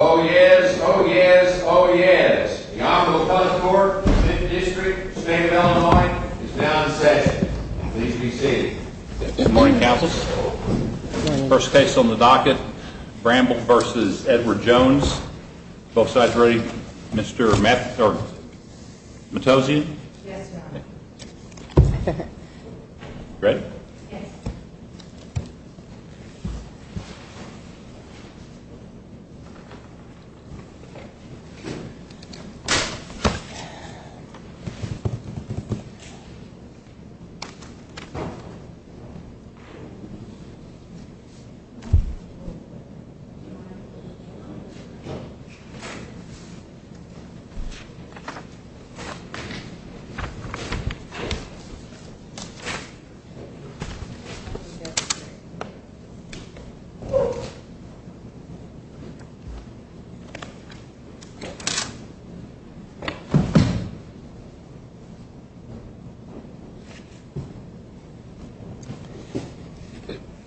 Oh yes, oh yes, oh yes. The Honorable Custody Court of the 5th District, State of Illinois, is now in session. Please be seated. Good morning, counselors. First case on the docket, Bramble v. Edward Jones. Both sides ready? Mr. Matosian? Yes, Your Honor. Ready? Yes.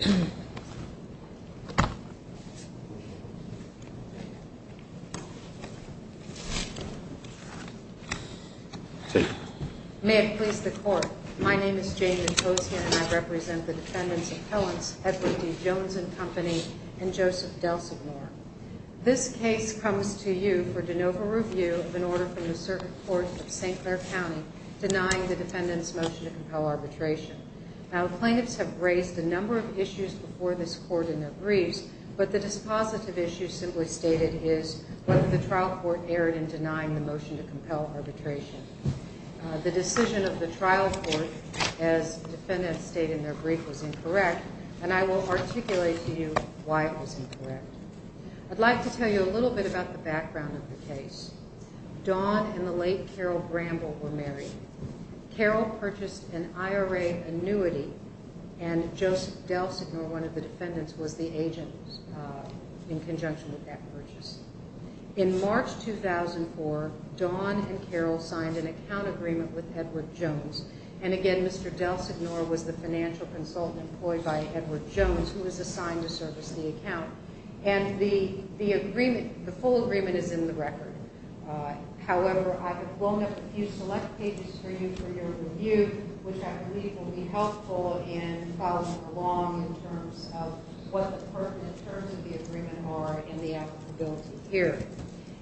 Thank you. Thank you. May it please the Court, my name is Jane Matosian and I represent the defendants of Helens, Edward D. Jones & Company, and Joseph DelSignore. This case comes to you for de novo review of an order from the Circuit Court of St. Clair County denying the defendant's motion to compel arbitration. Now, plaintiffs have raised a number of issues before this Court in their briefs, but the dispositive issue simply stated is whether the trial court erred in denying the motion to compel arbitration. The decision of the trial court, as defendants stated in their brief, was incorrect, and I will articulate to you why it was incorrect. I'd like to tell you a little bit about the background of the case. Don and the late Carol Bramble were married. Carol purchased an IRA annuity, and Joseph DelSignore, one of the defendants, was the agent in conjunction with that purchase. In March 2004, Don and Carol signed an account agreement with Edward Jones, and again, Mr. DelSignore was the financial consultant employed by Edward Jones, who was assigned to service the account. And the agreement, the full agreement, is in the record. However, I have blown up a few select pages for you for your review, which I believe will be helpful in following along in terms of what the pertinent terms of the agreement are and the applicability here.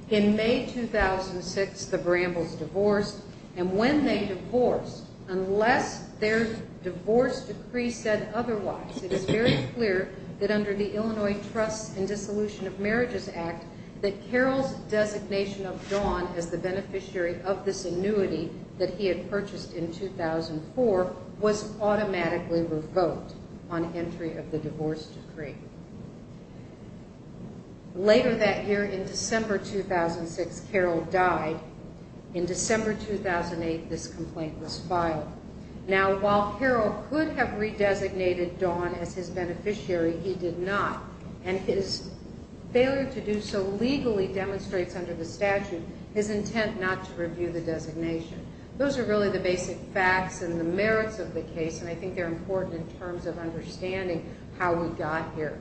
In May 2006, the Brambles divorced, and when they divorced, unless their divorce decree said otherwise, it is very clear that under the Illinois Trusts and Dissolution of Marriages Act that Carol's designation of Don as the beneficiary of this annuity that he had purchased in 2004 was automatically revoked on entry of the divorce decree. Later that year, in December 2006, Carol died. In December 2008, this complaint was filed. Now, while Carol could have redesignated Don as his beneficiary, he did not, and his failure to do so legally demonstrates under the statute his intent not to review the designation. Those are really the basic facts and the merits of the case, and I think they're important in terms of understanding how we got here.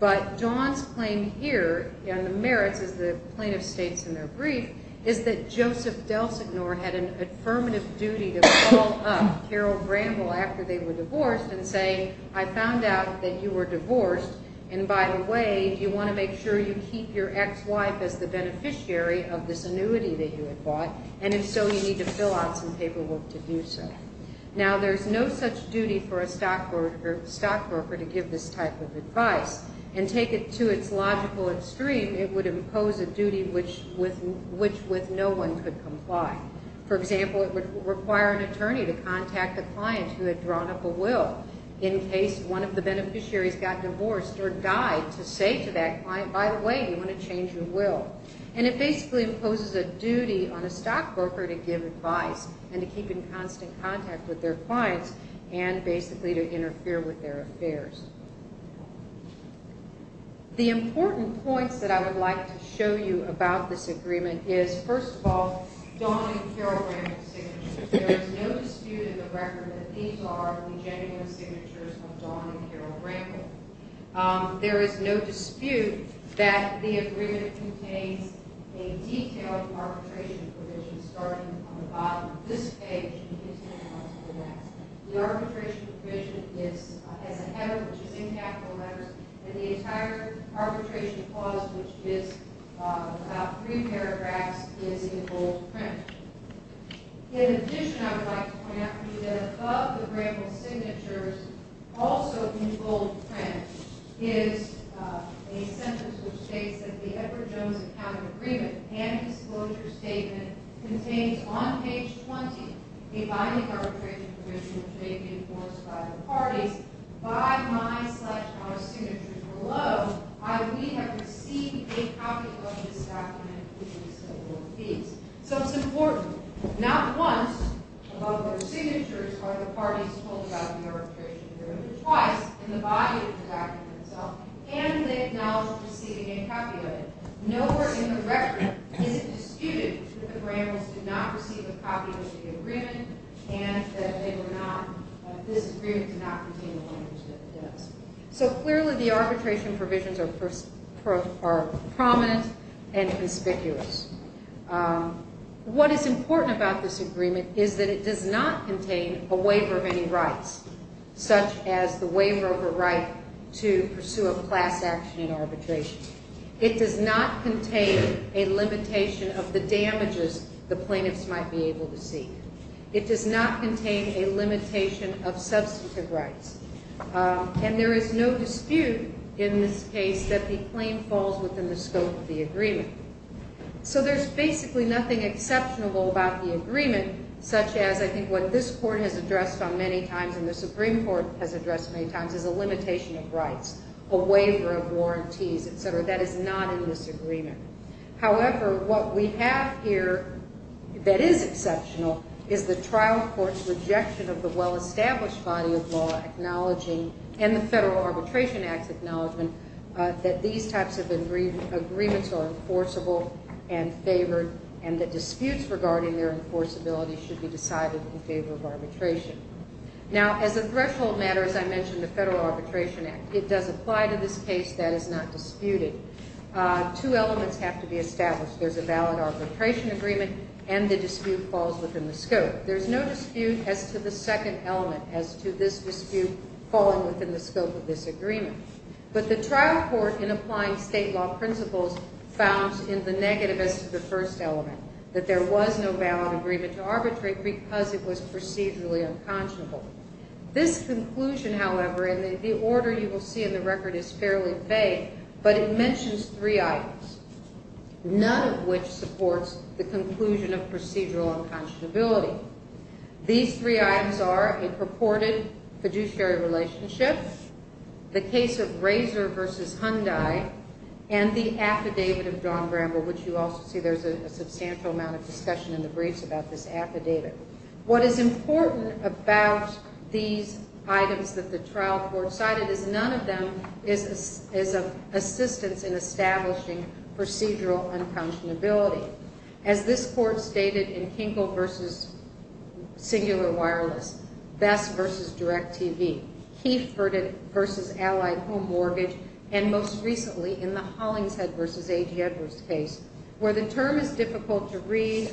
But Don's claim here, and the merits, as the plaintiff states in their brief, is that Joseph DelSignore had an affirmative duty to call up Carol Bramble after they were divorced and say, I found out that you were divorced, and by the way, do you want to make sure you keep your ex-wife as the beneficiary of this annuity that you had bought, and if so, you need to fill out some paperwork to do so. Now, there's no such duty for a stockbroker to give this type of advice, and take it to its logical extreme, it would impose a duty which with no one could comply. For example, it would require an attorney to contact the client who had drawn up a will in case one of the beneficiaries got divorced or died to say to that client, by the way, you want to change your will. And it basically imposes a duty on a stockbroker to give advice and to keep in constant contact with their clients and basically to interfere with their affairs. The important points that I would like to show you about this agreement is, first of all, Don and Carol Bramble's signatures. There is no dispute in the record that these are the genuine signatures of Don and Carol Bramble. There is no dispute that the agreement contains a detailed arbitration provision starting on the bottom of this page and continuing on to the next. The arbitration provision has a header which is in capital letters, and the entire arbitration clause, which is about three paragraphs, is in bold print. In addition, I would like to point out to you that above the Bramble signatures, also in bold print, is a sentence which states that the Edward Jones Accountant Agreement and Disclosure Statement contains, on page 20, a binding arbitration provision which may be enforced by the parties. By my, slash, our signatures below, I, we, have received a copy of this document, which is in bold piece. So it's important, not once, above their signatures, are the parties told about the arbitration provision, but twice, in the body of the document itself, can they acknowledge receiving a copy of it. Nowhere in the record is it disputed that the Brambles did not receive a copy of the agreement and that this agreement did not contain the language that it does. So clearly the arbitration provisions are prominent and conspicuous. What is important about this agreement is that it does not contain a waiver of any rights, such as the waiver of a right to pursue a class action in arbitration. It does not contain a limitation of the damages the plaintiffs might be able to seek. It does not contain a limitation of substantive rights. And there is no dispute in this case that the claim falls within the scope of the agreement. So there's basically nothing exceptional about the agreement, such as I think what this court has addressed on many times and the Supreme Court has addressed many times is a limitation of rights, a waiver of warranties, etc. That is not in this agreement. However, what we have here that is exceptional is the trial court's rejection of the well-established body of law acknowledging and the Federal Arbitration Act's acknowledgement that these types of agreements are enforceable and favored and that disputes regarding their enforceability should be decided in favor of arbitration. Now, as a threshold matter, as I mentioned, the Federal Arbitration Act, it does apply to this case. That is not disputed. Two elements have to be established. There's a valid arbitration agreement and the dispute falls within the scope. There's no dispute as to the second element as to this dispute falling within the scope of this agreement. But the trial court, in applying state law principles, found in the negative as to the first element that there was no valid agreement to arbitrate because it was procedurally unconscionable. This conclusion, however, and the order you will see in the record is fairly vague, but it mentions three items, none of which supports the conclusion of procedural unconscionability. These three items are a purported fiduciary relationship, the case of Razor v. Hyundai, and the affidavit of John Bramble, which you also see there's a substantial amount of discussion in the briefs about this affidavit. What is important about these items that the trial court cited is none of them is assistance in establishing procedural unconscionability. As this court stated in Kinkle v. Singular Wireless, Best v. Direct TV, Kieff v. Allied Home Mortgage, and most recently in the Hollingshead v. A.G. Edwards case, where the term is difficult to read,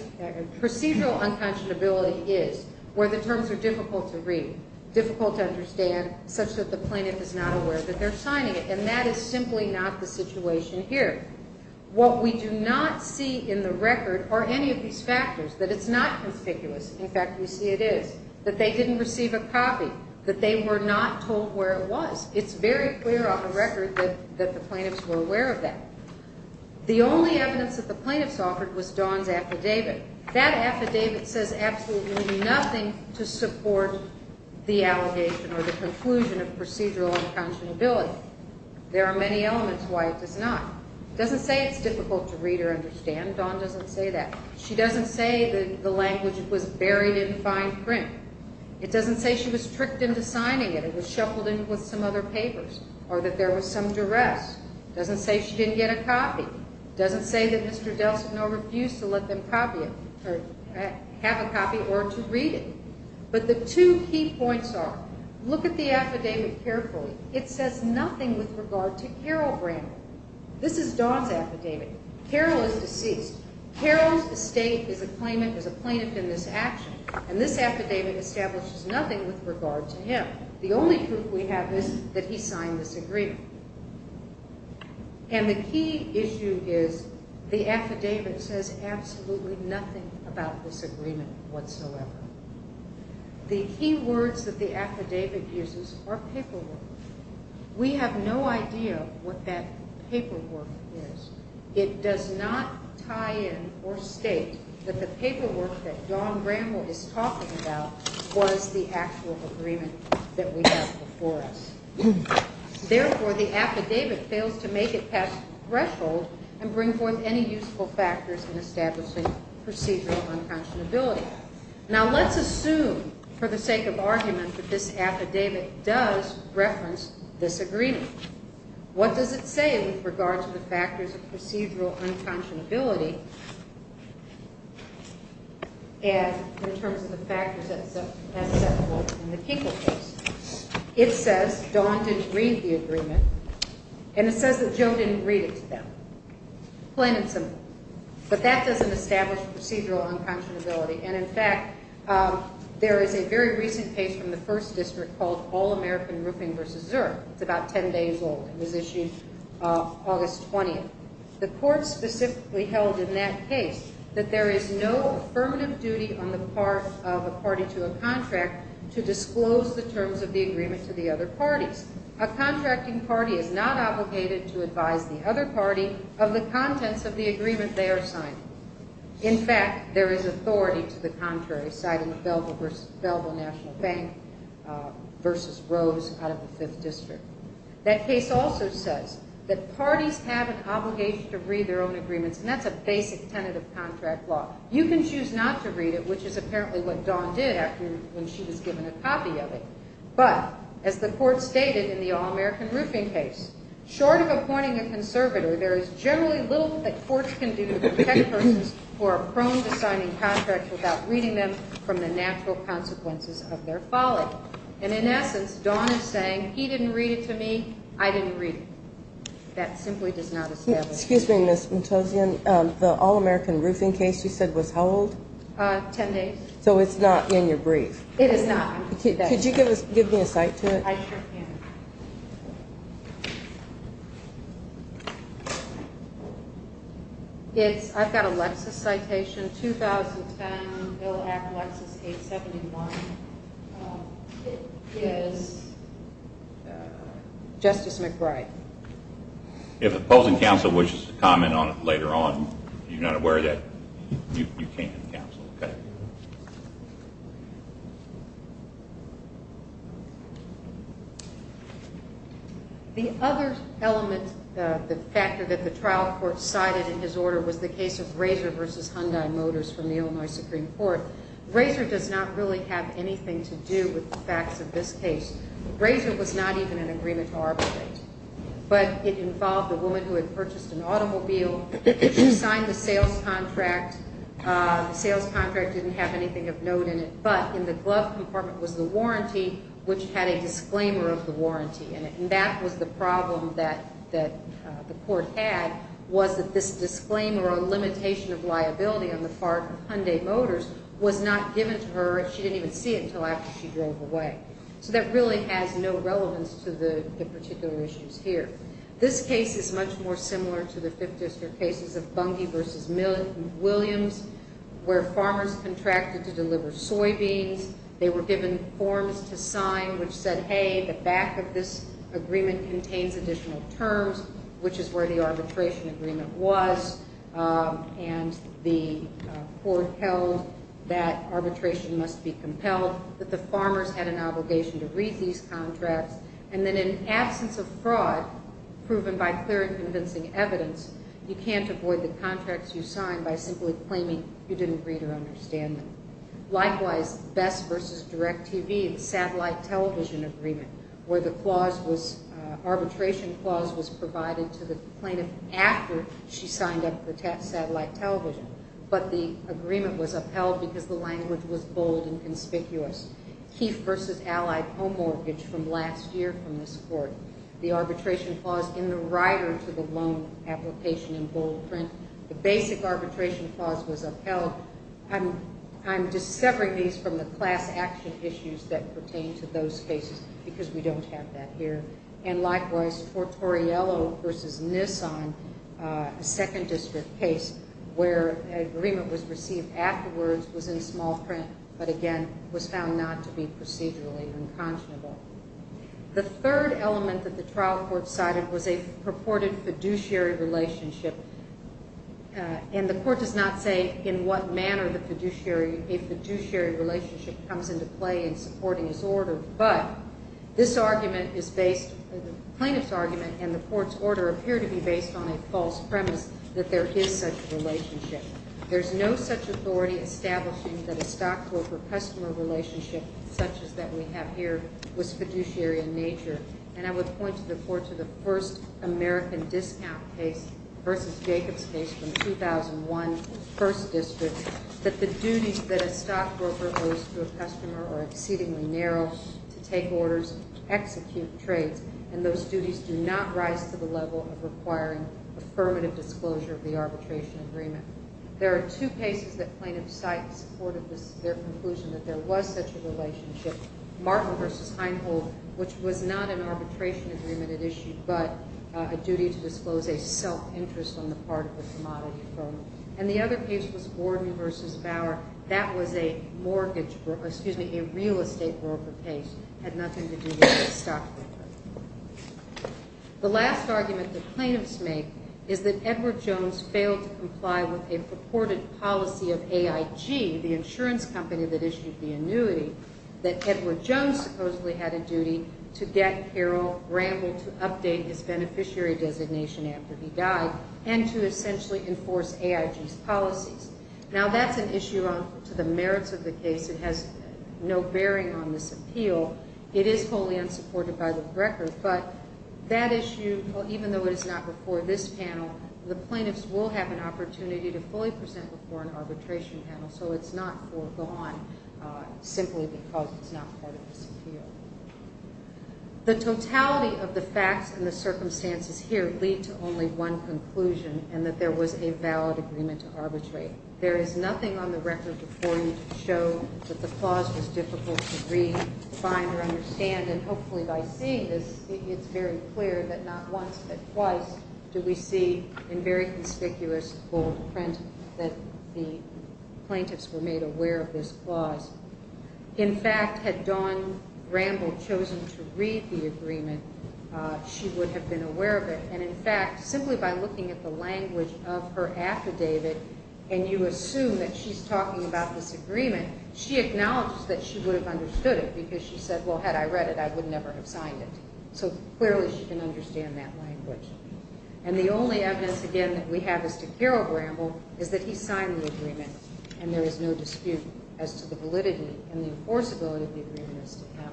procedural unconscionability is, where the terms are difficult to read, difficult to understand, such that the plaintiff is not aware that they're signing it. And that is simply not the situation here. What we do not see in the record are any of these factors, that it's not conspicuous. In fact, we see it is, that they didn't receive a copy, that they were not told where it was. It's very clear on the record that the plaintiffs were aware of that. The only evidence that the plaintiffs offered was Dawn's affidavit. That affidavit says absolutely nothing to support the allegation or the conclusion of procedural unconscionability. There are many elements why it does not. It doesn't say it's difficult to read or understand. Dawn doesn't say that. She doesn't say that the language was buried in fine print. It doesn't say she was tricked into signing it, it was shuffled in with some other papers, or that there was some duress. It doesn't say she didn't get a copy. It doesn't say that Mr. Delsignore refused to let them copy it, or have a copy, or to read it. But the two key points are, look at the affidavit carefully. It says nothing with regard to Carol Brando. This is Dawn's affidavit. Carol is deceased. Carol's estate is a claimant, is a plaintiff in this action. And this affidavit establishes nothing with regard to him. The only proof we have is that he signed this agreement. And the key issue is, the affidavit says absolutely nothing about this agreement whatsoever. The key words that the affidavit uses are paperwork. We have no idea what that paperwork is. It does not tie in or state that the paperwork that Dawn Bramble is talking about was the actual agreement that we have before us. Therefore, the affidavit fails to make it past the threshold and bring forth any useful factors in establishing procedural unconscionability. Now, let's assume, for the sake of argument, that this affidavit does reference this agreement. What does it say with regard to the factors of procedural unconscionability in terms of the factors that set forth in the Kinkle case? It says Dawn didn't read the agreement, and it says that Joe didn't read it to them. Plain and simple. But that doesn't establish procedural unconscionability. And, in fact, there is a very recent case from the First District called All-American Roofing v. Zurich. It's about 10 days old. It was issued August 20th. The court specifically held in that case that there is no affirmative duty on the part of a party to a contract to disclose the terms of the agreement to the other parties. A contracting party is not obligated to advise the other party of the contents of the agreement they are signing. In fact, there is authority to the contrary, citing the Belville National Bank v. Rose out of the Fifth District. That case also says that parties have an obligation to read their own agreements, and that's a basic tenet of contract law. You can choose not to read it, which is apparently what Dawn did when she was given a copy of it. But, as the court stated in the All-American Roofing case, short of appointing a conservator, there is generally little that courts can do to protect persons who are prone to signing contracts without reading them from the natural consequences of their folly. And, in essence, Dawn is saying, he didn't read it to me, I didn't read it. That simply does not establish procedural unconscionability. Excuse me, Ms. Montosian. The All-American Roofing case you said was how old? Ten days. So it's not in your brief. It is not. Could you give me a cite to it? I sure can. I've got a Lexis citation, 2010, Bill Act Lexis 871. Justice McBride. If the opposing counsel wishes to comment on it later on, if you're not aware of that, you can counsel. The other element, the factor that the trial court cited in his order was the case of Razor v. Hyundai Motors from the Illinois Supreme Court. Razor does not really have anything to do with the facts of this case. Razor was not even an agreement to arbitrate. But it involved a woman who had purchased an automobile. She signed the sales contract. The sales contract didn't have anything of note in it. But in the glove compartment was the warranty, which had a disclaimer of the warranty in it. And that was the problem that the court had, was that this disclaimer or limitation of liability on the part of Hyundai Motors was not given to her. She didn't even see it until after she drove away. So that really has no relevance to the particular issues here. This case is much more similar to the Fifth District cases of Bungie v. Williams, where farmers contracted to deliver soybeans. They were given forms to sign which said, hey, the back of this agreement contains additional terms, which is where the arbitration agreement was. And the court held that arbitration must be compelled, that the farmers had an obligation to read these contracts. And then in absence of fraud, proven by clear and convincing evidence, you can't avoid the contracts you sign by simply claiming you didn't read or understand them. Likewise, Bess v. DirecTV, the satellite television agreement, where the arbitration clause was provided to the plaintiff after she signed up for satellite television. But the agreement was upheld because the language was bold and conspicuous. Keefe v. Allied Home Mortgage from last year from this court, the arbitration clause in the rider to the loan application in bold print. So I'm just separating these from the class action issues that pertain to those cases because we don't have that here. And likewise, Tortoriello v. Nissan, a Second District case, where an agreement was received afterwards, was in small print, but again, was found not to be procedurally unconscionable. The third element that the trial court cited was a purported fiduciary relationship. And the court does not say in what manner a fiduciary relationship comes into play in supporting this order. But this argument is based, the plaintiff's argument and the court's order appear to be based on a false premise that there is such a relationship. There's no such authority establishing that a stockbroker-customer relationship such as that we have here was fiduciary in nature. And I would point the court to the first American discount case v. Jacobs case from 2001, First District, that the duties that a stockbroker owes to a customer are exceedingly narrow to take orders, execute trades, and those duties do not rise to the level of requiring affirmative disclosure of the arbitration agreement. There are two cases that plaintiffs cite in support of their conclusion that there was such a relationship, Martin v. Heinhold, which was not an arbitration agreement it issued, but a duty to disclose a self-interest on the part of the commodity firm. And the other case was Gordon v. Bauer. That was a mortgage broker, excuse me, a real estate broker case. It had nothing to do with the stockbroker. The last argument the plaintiffs make is that Edward Jones failed to comply with a purported policy of AIG, the insurance company that issued the annuity, that Edward Jones supposedly had a duty to get Harold Ramble to update his beneficiary designation after he died and to essentially enforce AIG's policies. Now, that's an issue to the merits of the case. It has no bearing on this appeal. It is wholly unsupported by the record. But that issue, even though it is not before this panel, the plaintiffs will have an opportunity to fully present before an arbitration panel, so it's not foregone simply because it's not part of this appeal. The totality of the facts and the circumstances here lead to only one conclusion, and that there was a valid agreement to arbitrate. There is nothing on the record before you to show that the clause was difficult to read, find, or understand. And hopefully by seeing this, it's very clear that not once but twice do we see in very conspicuous bold print that the plaintiffs were made aware of this clause. In fact, had Dawn Ramble chosen to read the agreement, she would have been aware of it. And in fact, simply by looking at the language of her affidavit, and you assume that she's talking about this agreement, she acknowledges that she would have understood it because she said, well, had I read it, I would never have signed it. So clearly she can understand that language. And the only evidence, again, that we have as to Carol Ramble is that he signed the agreement, and there is no dispute as to the validity and the enforceability of the agreement as to him.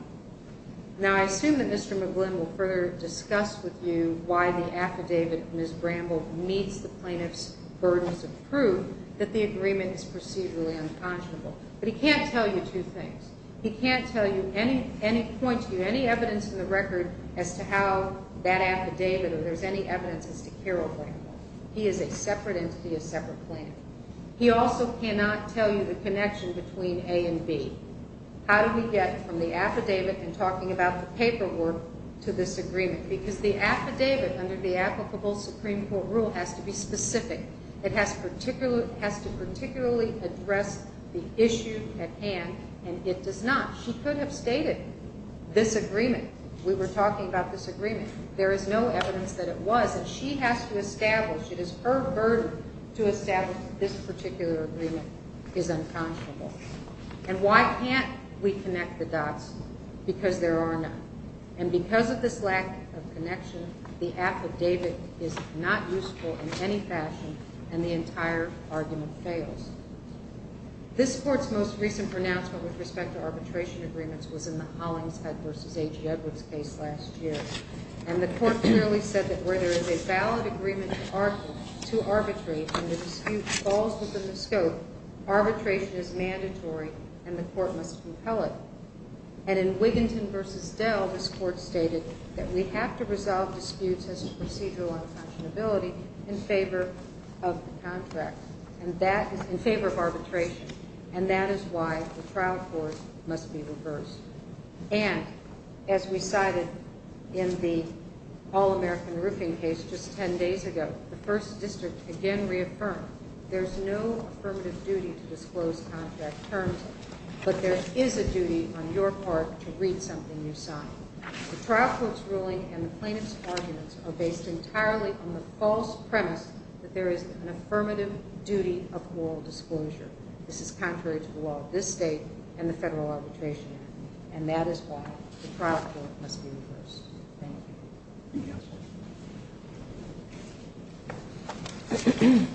Now, I assume that Mr. McGlynn will further discuss with you why the affidavit of Ms. Ramble meets the plaintiff's burdens of proof that the agreement is procedurally unconscionable. But he can't tell you two things. He can't point to you any evidence in the record as to how that affidavit or if there's any evidence as to Carol Ramble. He is a separate entity, a separate plaintiff. He also cannot tell you the connection between A and B. How do we get from the affidavit and talking about the paperwork to this agreement? Because the affidavit under the applicable Supreme Court rule has to be specific. It has to particularly address the issue at hand, and it does not. She could have stated this agreement. We were talking about this agreement. There is no evidence that it was, and she has to establish, it is her burden to establish that this particular agreement is unconscionable. And why can't we connect the dots? Because there are none. And because of this lack of connection, the affidavit is not useful in any fashion, and the entire argument fails. This Court's most recent pronouncement with respect to arbitration agreements was in the Hollingshead v. A.G. Edwards case last year. And the Court clearly said that where there is a valid agreement to arbitrate and the dispute falls within the scope, arbitration is mandatory, and the Court must compel it. And in Wiginton v. Dell, this Court stated that we have to resolve disputes as to procedural unconscionability in favor of the contract, in favor of arbitration, and that is why the trial court must be reversed. And as we cited in the All-American Roofing case just 10 days ago, the First District again reaffirmed there's no affirmative duty to disclose contract terms, but there is a duty on your part to read something you sign. The trial court's ruling and the plaintiff's arguments are based entirely on the false premise that there is an affirmative duty of oral disclosure. This is contrary to the law of this State and the Federal Arbitration Act, and that is why the trial court must be reversed. Thank you. Thank you. Good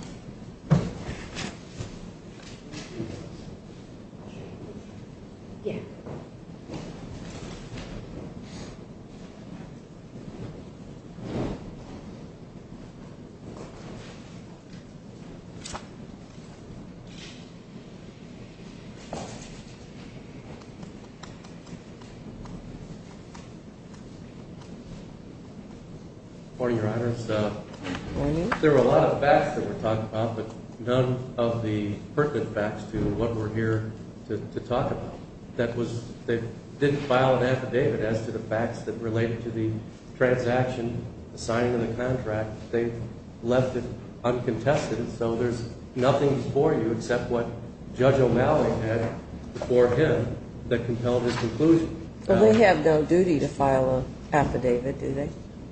morning, Your Honors. Good morning. There were a lot of facts that were talked about, but none of the pertinent facts to what we're here to talk about. That was they didn't file an affidavit as to the facts that related to the transaction, the signing of the contract. They left it uncontested, so there's nothing before you except what Judge O'Malley had before him that compelled his conclusion. But they have no duty to file an affidavit, do they?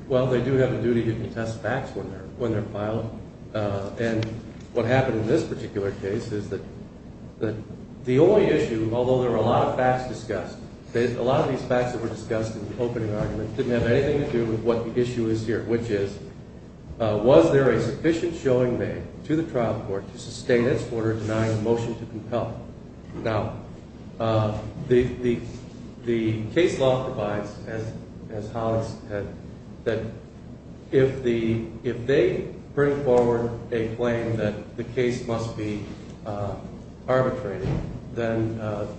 Well, they do have a duty to contest facts when they're filed. And what happened in this particular case is that the only issue, although there were a lot of facts discussed, a lot of these facts that were discussed in the opening argument didn't have anything to do with what the issue is here, which is was there a sufficient showing made to the trial court to sustain its order denying a motion to compel? Now, the case law provides, as Hollis said, that if they bring forward a claim that the case must be arbitrated, then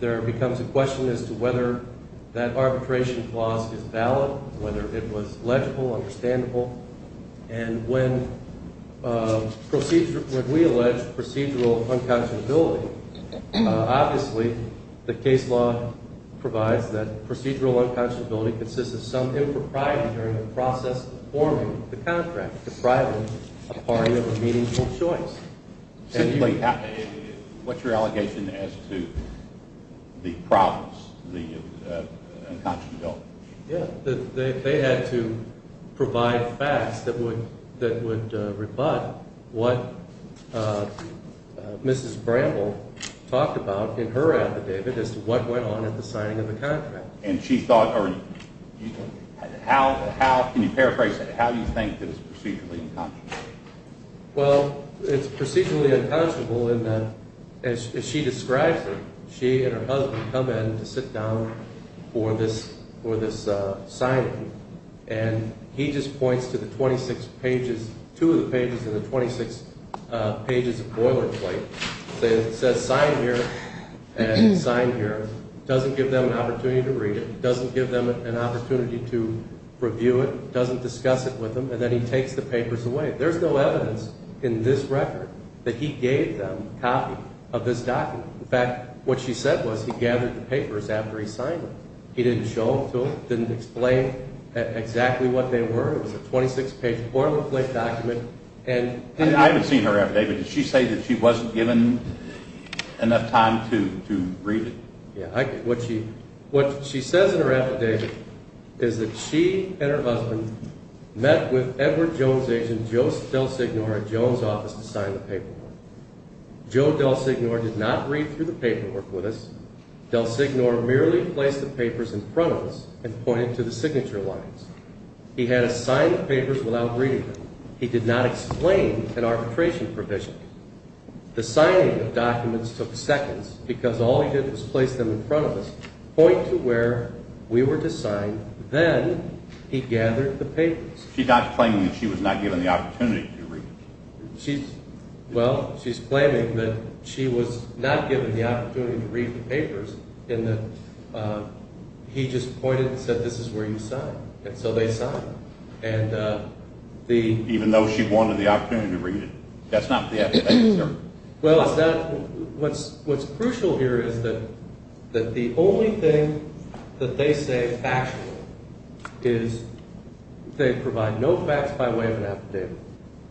there becomes a question as to whether that arbitration clause is valid, and when we allege procedural unconscionability, obviously the case law provides that procedural unconscionability consists of some impropriety during the process of forming the contract, depriving a party of a meaningful choice. What's your allegation as to the province, the unconscionability? Yeah, they had to provide facts that would rebut what Mrs. Bramble talked about in her affidavit as to what went on at the signing of the contract. Can you paraphrase that? How do you think that it's procedurally unconscionable? Well, it's procedurally unconscionable in that, as she describes it, she and her husband come in to sit down for this signing, and he just points to the 26 pages, two of the pages of the 26 pages of boilerplate, says, sign here and sign here, doesn't give them an opportunity to read it, doesn't give them an opportunity to review it, doesn't discuss it with them, and then he takes the papers away. There's no evidence in this record that he gave them a copy of this document. In fact, what she said was he gathered the papers after he signed them. He didn't show them to them, didn't explain exactly what they were. It was a 26-page boilerplate document. I haven't seen her affidavit. Did she say that she wasn't given enough time to read it? Yeah. What she says in her affidavit is that she and her husband met with Edward Jones' agent, Joe DelSignore, at Jones' office to sign the paperwork. Joe DelSignore did not read through the paperwork with us. DelSignore merely placed the papers in front of us and pointed to the signature lines. He had us sign the papers without reading them. He did not explain an arbitration provision. The signing of documents took seconds because all he did was place them in front of us, point to where we were to sign, then he gathered the papers. She's not claiming that she was not given the opportunity to read it. Well, she's claiming that she was not given the opportunity to read the papers and that he just pointed and said, this is where you sign. And so they signed. Even though she wanted the opportunity to read it. That's not the affidavit, sir. Well, what's crucial here is that the only thing that they say is factual is they provide no facts by way of an affidavit.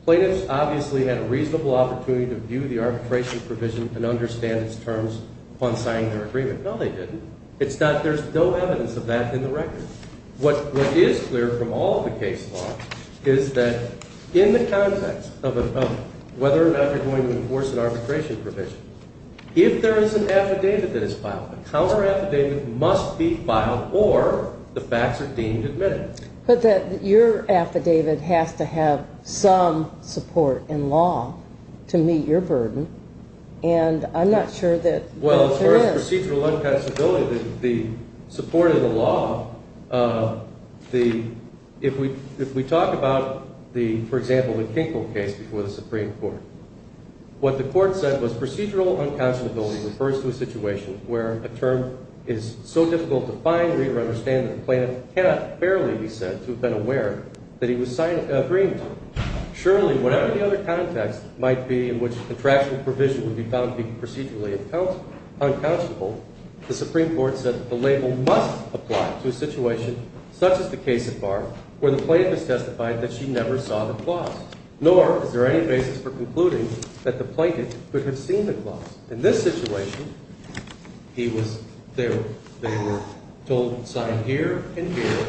Plaintiffs obviously had a reasonable opportunity to view the arbitration provision and understand its terms upon signing their agreement. No, they didn't. There's no evidence of that in the record. What is clear from all of the case law is that in the context of whether or not you're going to enforce an arbitration provision, if there is an affidavit that is filed, a counter-affidavit must be filed or the facts are deemed admitted. But your affidavit has to have some support in law to meet your burden. And I'm not sure that there is. Well, as far as procedural unconscionability, the support of the law, if we talk about, for example, the Kinkel case before the Supreme Court, what the court said was procedural unconscionability refers to a situation where a term is so difficult to find, read, or understand that the plaintiff cannot barely be said to have been aware that he was agreeing to it. Surely, whatever the other context might be in which a contractual provision would be found to be procedurally unconscionable, the Supreme Court said that the label must apply to a situation such as the case at Bar where the plaintiff has testified that she never saw the clause. Nor is there any basis for concluding that the plaintiff could have seen the clause. In this situation, they were told to sign here and here,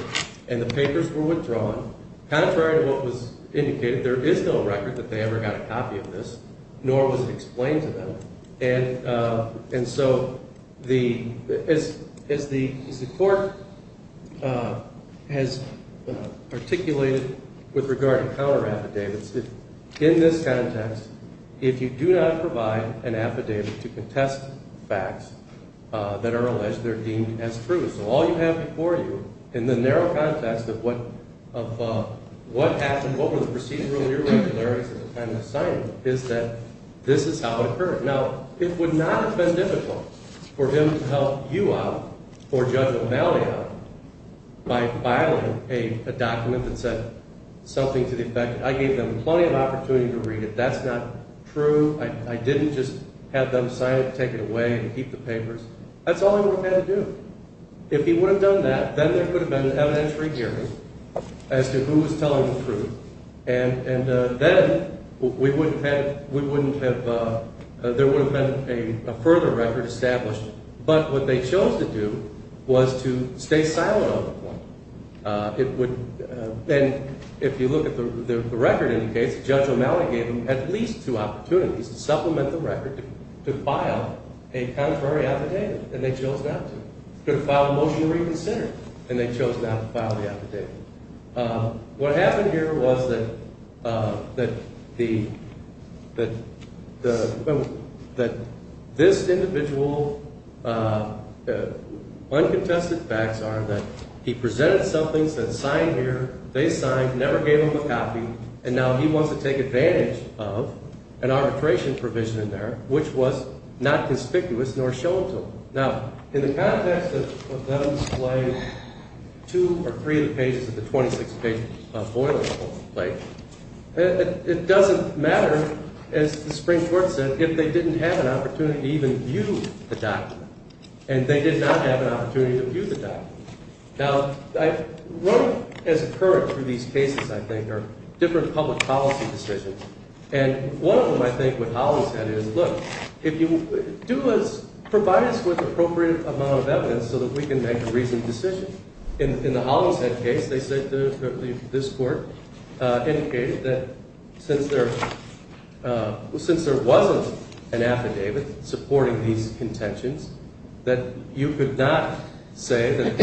and the papers were withdrawn. Contrary to what was indicated, there is no record that they ever got a copy of this, nor was it explained to them. And so as the court has articulated with regard to counter-affidavits, in this context, if you do not provide an affidavit to contest facts that are alleged, they're deemed as true. So all you have before you in the narrow context of what happened, what were the procedural irregularities at the time of the signing, is that this is how it occurred. Now, it would not have been difficult for him to help you out or Judge O'Malley out by filing a document that said something to the effect that, I gave them plenty of opportunity to read it, that's not true, I didn't just have them sign it and take it away and keep the papers. That's all he would have had to do. If he would have done that, then there could have been an evidentiary hearing as to who was telling the truth, and then there would have been a further record established. But what they chose to do was to stay silent on the point. And if you look at the record in the case, Judge O'Malley gave them at least two opportunities to supplement the record, to file a contrary affidavit, and they chose not to. They could have filed a motion to reconsider, and they chose not to file the affidavit. What happened here was that this individual, uncontested facts are that he presented something, said sign here, they signed, never gave him a copy, and now he wants to take advantage of an arbitration provision in there, which was not conspicuous nor shown to him. Now, in the context of them displaying two or three of the pages of the 26-page boilerplate, it doesn't matter, as the Supreme Court said, if they didn't have an opportunity to even view the document. And they did not have an opportunity to view the document. Now, what has occurred through these cases, I think, are different public policy decisions. And one of them, I think, with Hollingshead is, look, provide us with appropriate amount of evidence so that we can make a reasoned decision. In the Hollingshead case, they said, this court indicated that since there wasn't an affidavit supporting these contentions, that you could not say that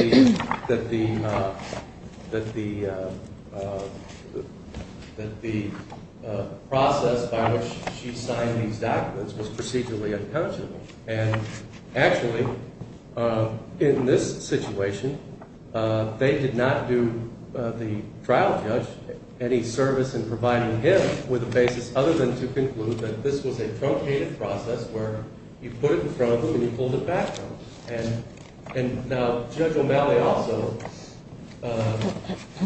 the process by which she signed these documents was procedurally unconscionable. And actually, in this situation, they did not do the trial judge any service in providing him with a basis other than to conclude that this was a truncated process where you put it in front of him and you pulled it back from him. And now, Judge O'Malley also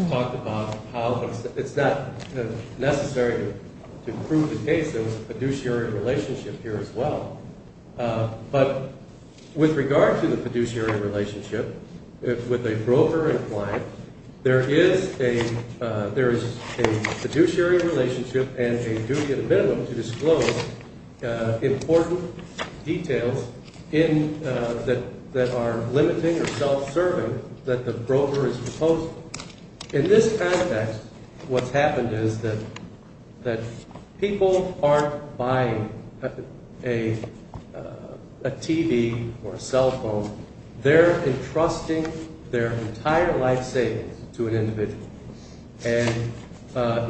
talked about how it's not necessary to prove the case. There was a fiduciary relationship here as well. But with regard to the fiduciary relationship, with a broker and client, there is a fiduciary relationship and a duty and a minimum to disclose important details that are limiting or self-serving that the broker is proposing. In this context, what's happened is that people aren't buying a TV or a cell phone. They're entrusting their entire life savings to an individual. And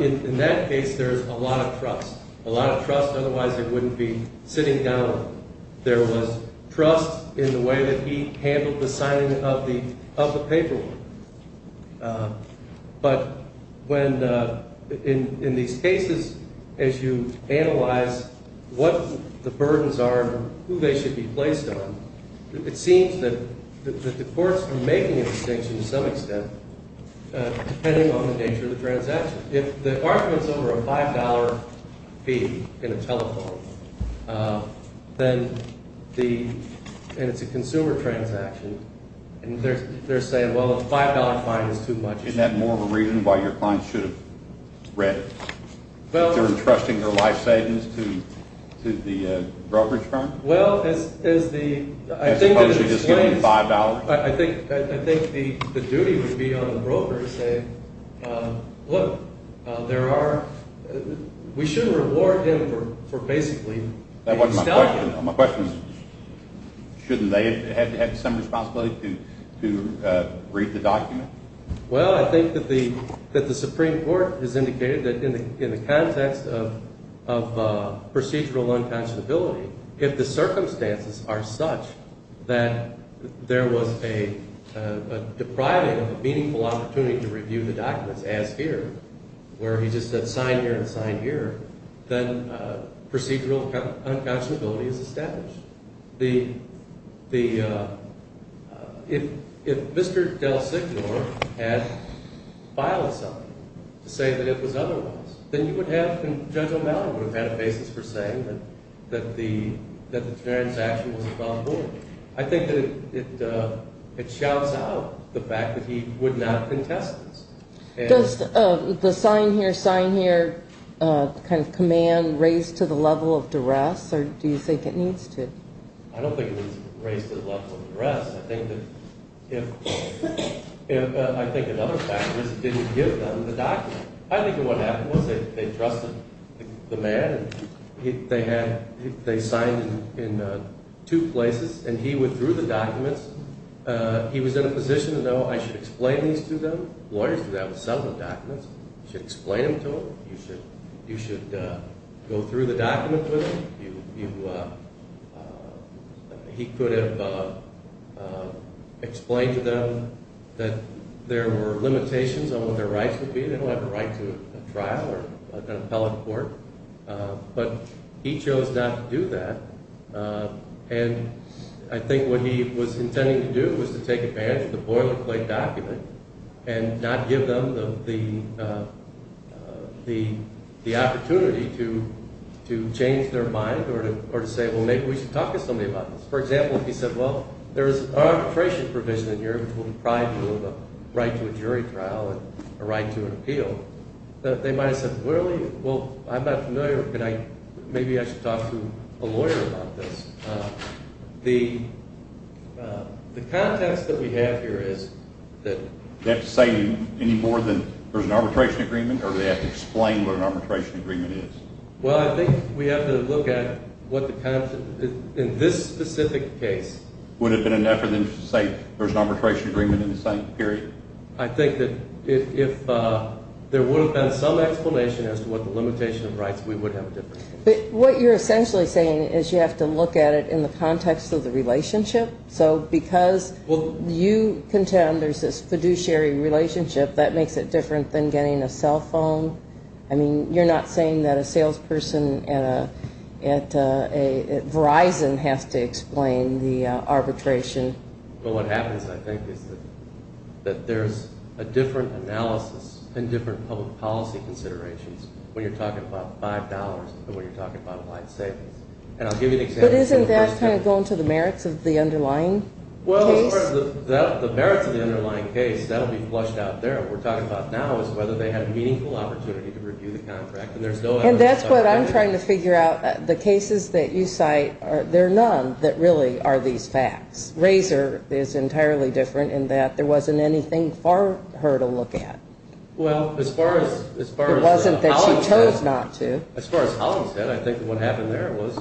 in that case, there's a lot of trust, a lot of trust otherwise they wouldn't be sitting down. There was trust in the way that he handled the signing of the paperwork. But when – in these cases, as you analyze what the burdens are and who they should be placed on, it seems that the courts are making a distinction to some extent depending on the nature of the transaction. If the argument's over a $5 fee in a telephone, then the – and it's a consumer transaction. And they're saying, well, a $5 fine is too much. Isn't that more of a reason why your client should have read it? They're entrusting their life savings to the brokerage firm? Well, as the – I think that explains – As opposed to just giving $5? I think the duty would be on the broker to say, look, there are – we should reward him for basically – That wasn't my question. My question is shouldn't they have some responsibility to read the document? Well, I think that the Supreme Court has indicated that in the context of procedural unconscionability, if the circumstances are such that there was a depriving of a meaningful opportunity to review the documents, where he just said sign here and sign here, then procedural unconscionability is established. The – if Mr. DelSignore had filed something to say that it was otherwise, then you would have – Judge O'Malley would have had a basis for saying that the transaction was inviolable. I think that it shouts out the fact that he would not contest this. Does the sign here, sign here kind of command raise to the level of duress, or do you think it needs to? I don't think it needs to raise to the level of duress. I think that if – I think another factor is it didn't give them the document. I think what happened was they trusted the man. They had – they signed in two places, and he withdrew the documents. He was in a position to know I should explain these to them. Lawyers do that with some of the documents. You should explain them to them. You should go through the documents with them. You – he could have explained to them that there were limitations on what their rights would be. They don't have a right to a trial or an appellate court, but he chose not to do that. And I think what he was intending to do was to take advantage of the boilerplate document and not give them the opportunity to change their mind or to say, well, maybe we should talk to somebody about this. For example, if he said, well, there is arbitration provision in here which will deprive you of a right to a jury trial and a right to an appeal, they might have said, well, I'm not familiar. Maybe I should talk to a lawyer about this. The context that we have here is that – Do they have to say any more than there's an arbitration agreement, or do they have to explain what an arbitration agreement is? Well, I think we have to look at what the – in this specific case. Would it have been enough for them to say there's an arbitration agreement in the same period? I think that if there would have been some explanation as to what the limitation of rights, we would have a difference. But what you're essentially saying is you have to look at it in the context of the relationship. So because you contend there's this fiduciary relationship, that makes it different than getting a cell phone. I mean, you're not saying that a salesperson at Verizon has to explain the arbitration. But what happens, I think, is that there's a different analysis and different public policy considerations when you're talking about $5 and when you're talking about life savings. And I'll give you an example. But isn't that kind of going to the merits of the underlying case? Well, as far as the merits of the underlying case, that will be flushed out there. What we're talking about now is whether they had a meaningful opportunity to review the contract. And that's what I'm trying to figure out. The cases that you cite, there are none that really are these facts. Razor is entirely different in that there wasn't anything for her to look at. It wasn't that she chose not to. As far as Holland said, I think what happened there was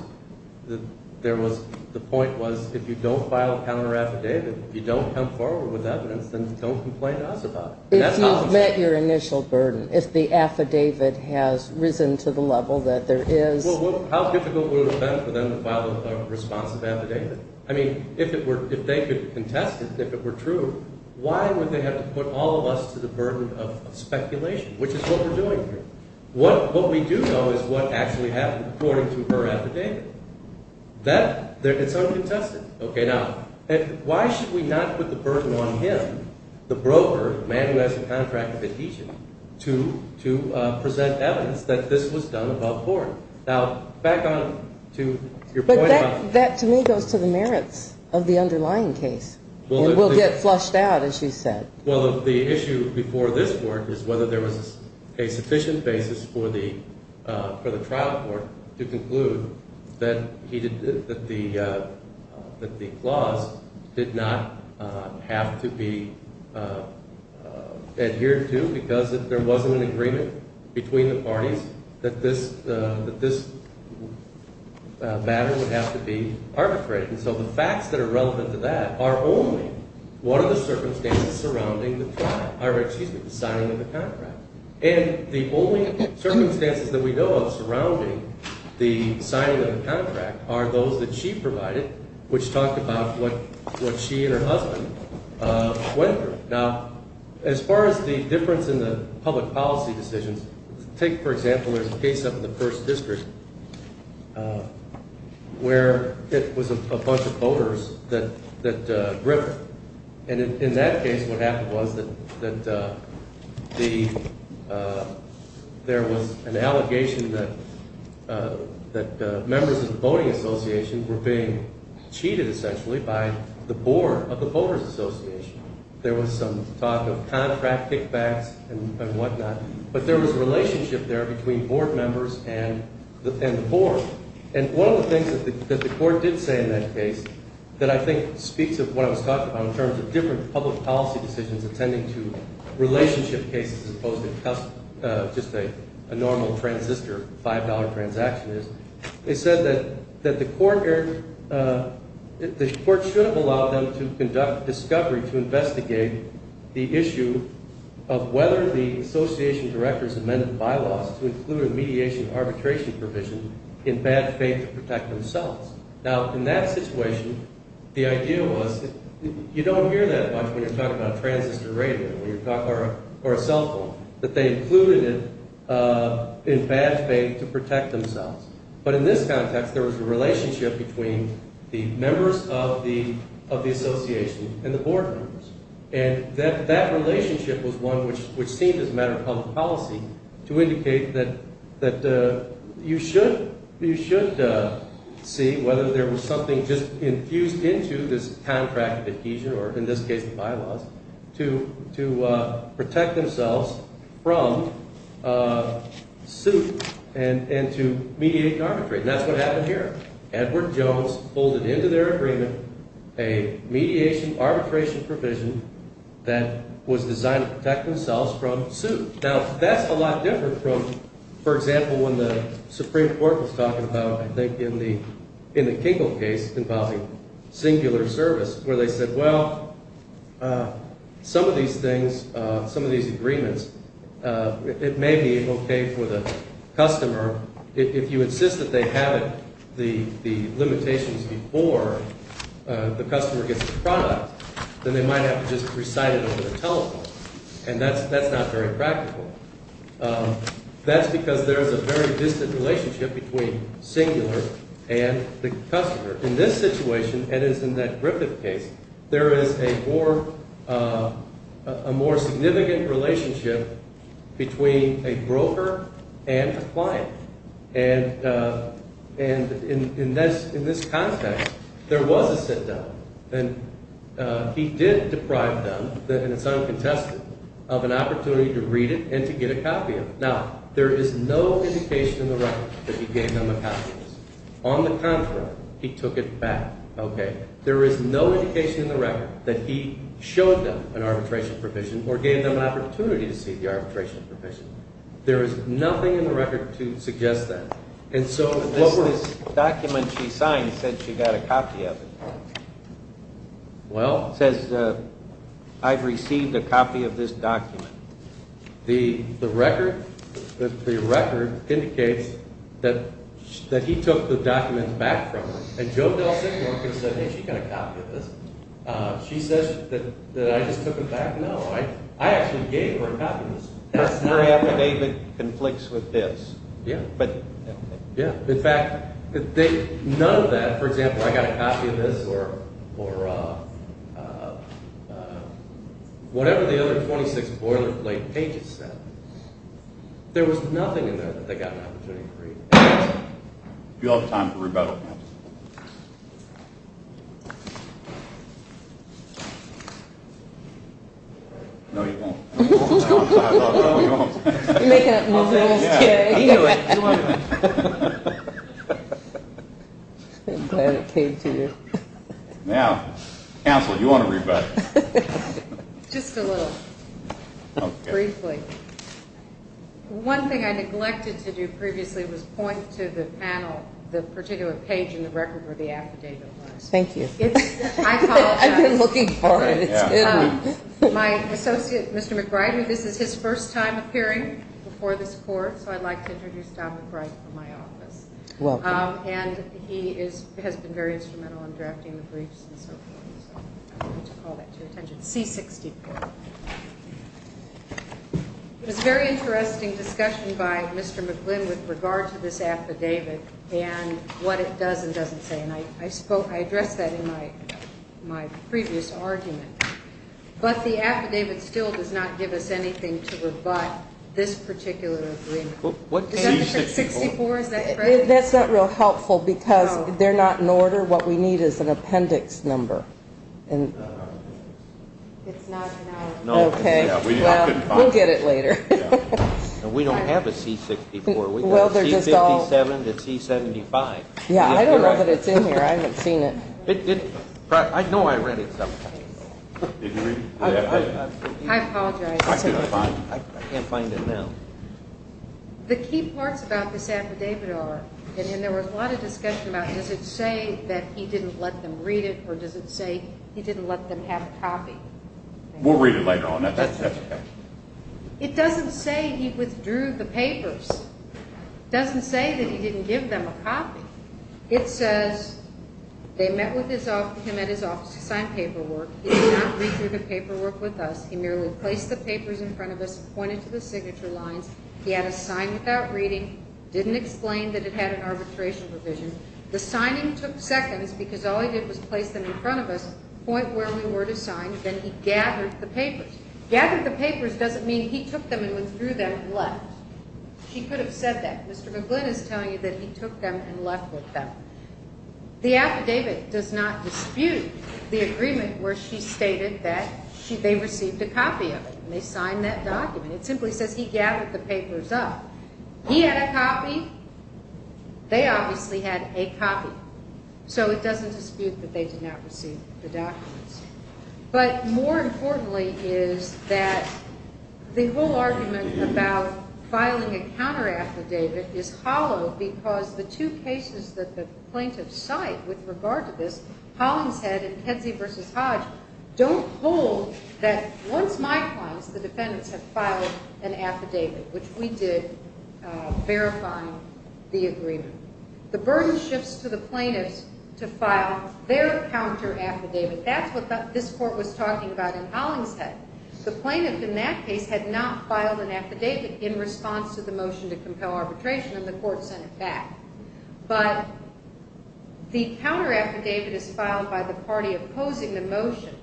the point was if you don't file a counteraffidavit, if you don't come forward with evidence, then don't complain to us about it. If you've met your initial burden, if the affidavit has risen to the level that there is. How difficult would it have been for them to file a responsive affidavit? I mean, if they could contest it, if it were true, why would they have to put all of us to the burden of speculation, which is what we're doing here? What we do know is what actually happened according to her affidavit. That, it's uncontested. Okay, now, why should we not put the burden on him, the broker, the man who has the contract that he should, to present evidence that this was done above board? That, to me, goes to the merits of the underlying case. It will get flushed out, as you said. Well, the issue before this Court is whether there was a sufficient basis for the trial court to conclude that the clause did not have to be adhered to because there wasn't an agreement between the parties that this matter would have to be arbitrated. And so the facts that are relevant to that are only what are the circumstances surrounding the trial, or excuse me, the signing of the contract. And the only circumstances that we know of surrounding the signing of the contract are those that she provided, which talked about what she and her husband went through. Now, as far as the difference in the public policy decisions, take, for example, there's a case up in the 1st District where it was a bunch of voters that gripped. And in that case, what happened was that there was an allegation that members of the Voting Association were being cheated, essentially, by the board of the Voters Association. There was some talk of contract kickbacks and whatnot. But there was a relationship there between board members and the board. And one of the things that the Court did say in that case that I think speaks of what I was talking about in terms of different public policy decisions attending to relationship cases as opposed to just a normal transistor $5 transaction is, they said that the Court should have allowed them to conduct discovery to investigate the issue of whether the Association Director's amended bylaws to include a mediation arbitration provision in bad faith to protect themselves. Now, in that situation, the idea was you don't hear that much when you're talking about a transistor radio or a cell phone, that they included it in bad faith to protect themselves. But in this context, there was a relationship between the members of the Association and the board members. And that relationship was one which seemed, as a matter of public policy, to indicate that you should see whether there was something just infused into this contract adhesion or in this case bylaws to protect themselves from suit and to mediate and arbitrate. And that's what happened here. Edward Jones folded into their agreement a mediation arbitration provision that was designed to protect themselves from suit. Now, that's a lot different from, for example, when the Supreme Court was talking about, I think, in the Kinkle case involving singular service where they said, well, some of these things, some of these agreements, it may be okay for the customer. If you insist that they have the limitations before the customer gets the product, then they might have to just recite it over the telephone. And that's not very practical. That's because there is a very distant relationship between singular and the customer. In this situation, that is in that Griffith case, there is a more significant relationship between a broker and a client. And in this context, there was a sit-down. And he did deprive them, and it's uncontested, of an opportunity to read it and to get a copy of it. Now, there is no indication in the record that he gave them a copy of this. On the contrary, he took it back. Okay. There is no indication in the record that he showed them an arbitration provision or gave them an opportunity to see the arbitration provision. There is nothing in the record to suggest that. This document she signed said she got a copy of it. Well? It says, I've received a copy of this document. The record indicates that he took the document back from her. And Joe DelSignore can say, hey, she got a copy of this. She says that I just took it back. No, I actually gave her a copy of this. That's very affidavit conflicts with this. Yeah. In fact, none of that, for example, I got a copy of this or whatever the other 26 boilerplate pages said, there was nothing in there that they got an opportunity to read. Do you all have time for rebuttal? No, you don't. You're making up new rules today. I'm glad it came to you. Now, counsel, do you want to rebut? Just a little. Briefly. One thing I neglected to do previously was point to the panel, the particular page in the record where the affidavit was. Thank you. I apologize. I've been looking for it. It's good. My associate, Mr. McBride, this is his first time appearing before this court. So I'd like to introduce Don McBride from my office. Welcome. And he has been very instrumental in drafting the briefs and so forth. So I wanted to call that to your attention, C64. It was a very interesting discussion by Mr. McGlynn with regard to this affidavit and what it does and doesn't say. And I addressed that in my previous argument. But the affidavit still does not give us anything to rebut this particular agreement. Is that different? C64, is that correct? That's not real helpful because they're not in order. What we need is an appendix number. Okay. We'll get it later. We don't have a C64. We have a C57 and a C75. Yeah, I don't know that it's in here. I haven't seen it. I know I read it some time ago. I apologize. I can't find it now. The key parts about this affidavit are, and there was a lot of discussion about, does it say that he didn't let them read it or does it say he didn't let them have a copy? We'll read it later on. That's okay. It doesn't say he withdrew the papers. It doesn't say that he didn't give them a copy. It says they met with him at his office to sign paperwork. He did not read through the paperwork with us. He merely placed the papers in front of us, pointed to the signature lines. He had us sign without reading, didn't explain that it had an arbitration provision. The signing took seconds because all he did was place them in front of us, point where we were to sign, then he gathered the papers. Gathered the papers doesn't mean he took them and withdrew them and left. He could have said that. Mr. McGlynn is telling you that he took them and left with them. The affidavit does not dispute the agreement where she stated that they received a copy of it and they signed that document. It simply says he gathered the papers up. He had a copy. They obviously had a copy. So it doesn't dispute that they did not receive the documents. But more importantly is that the whole argument about filing a counteraffidavit is hollow because the two cases that the plaintiffs cite with regard to this, Hollingshead and Kedzie v. Hodge, don't hold that once my clients, the defendants, have filed an affidavit, which we did verifying the agreement. The burden shifts to the plaintiffs to file their counteraffidavit. That's what this court was talking about in Hollingshead. The plaintiff in that case had not filed an affidavit in response to the motion to compel arbitration, and the court sent it back. But the counteraffidavit is filed by the party opposing the motion.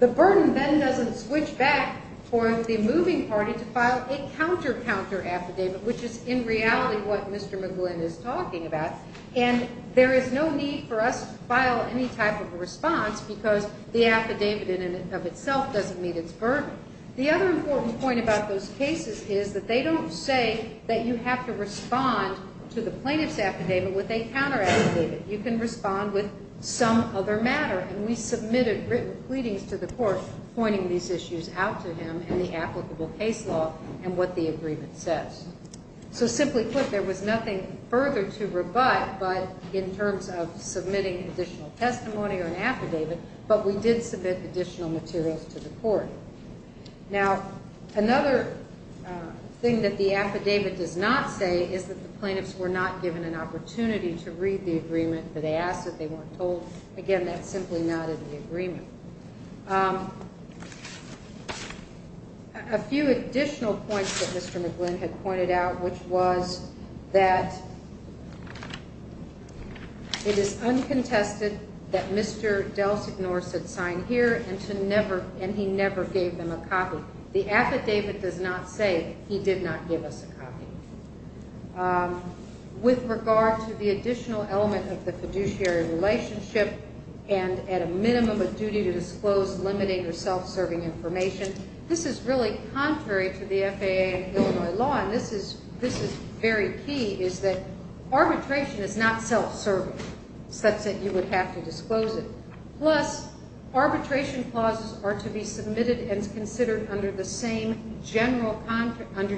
The burden then doesn't switch back for the moving party to file a counter-counteraffidavit, which is in reality what Mr. McGlynn is talking about. And there is no need for us to file any type of a response because the affidavit in and of itself doesn't meet its burden. The other important point about those cases is that they don't say that you have to respond to the plaintiff's affidavit with a counteraffidavit. You can respond with some other matter, and we submitted written pleadings to the court pointing these issues out to him and the applicable case law and what the agreement says. So simply put, there was nothing further to rebut but in terms of submitting additional testimony or an affidavit, but we did submit additional materials to the court. Now, another thing that the affidavit does not say is that the plaintiffs were not given an opportunity to read the agreement, but they asked that they weren't told. Again, that's simply not in the agreement. A few additional points that Mr. McGlynn had pointed out, which was that it is uncontested that Mr. DelSignore should sign here and he never gave them a copy. The affidavit does not say he did not give us a copy. With regard to the additional element of the fiduciary relationship and at a minimum a duty to disclose limiting or self-serving information, this is really contrary to the FAA and Illinois law, and this is very key, is that arbitration is not self-serving, such that you would have to disclose it. Plus, arbitration clauses are to be submitted and considered under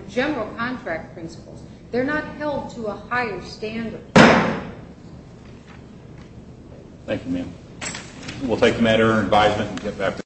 general contract principles. They're not held to a higher standard. Thank you, ma'am.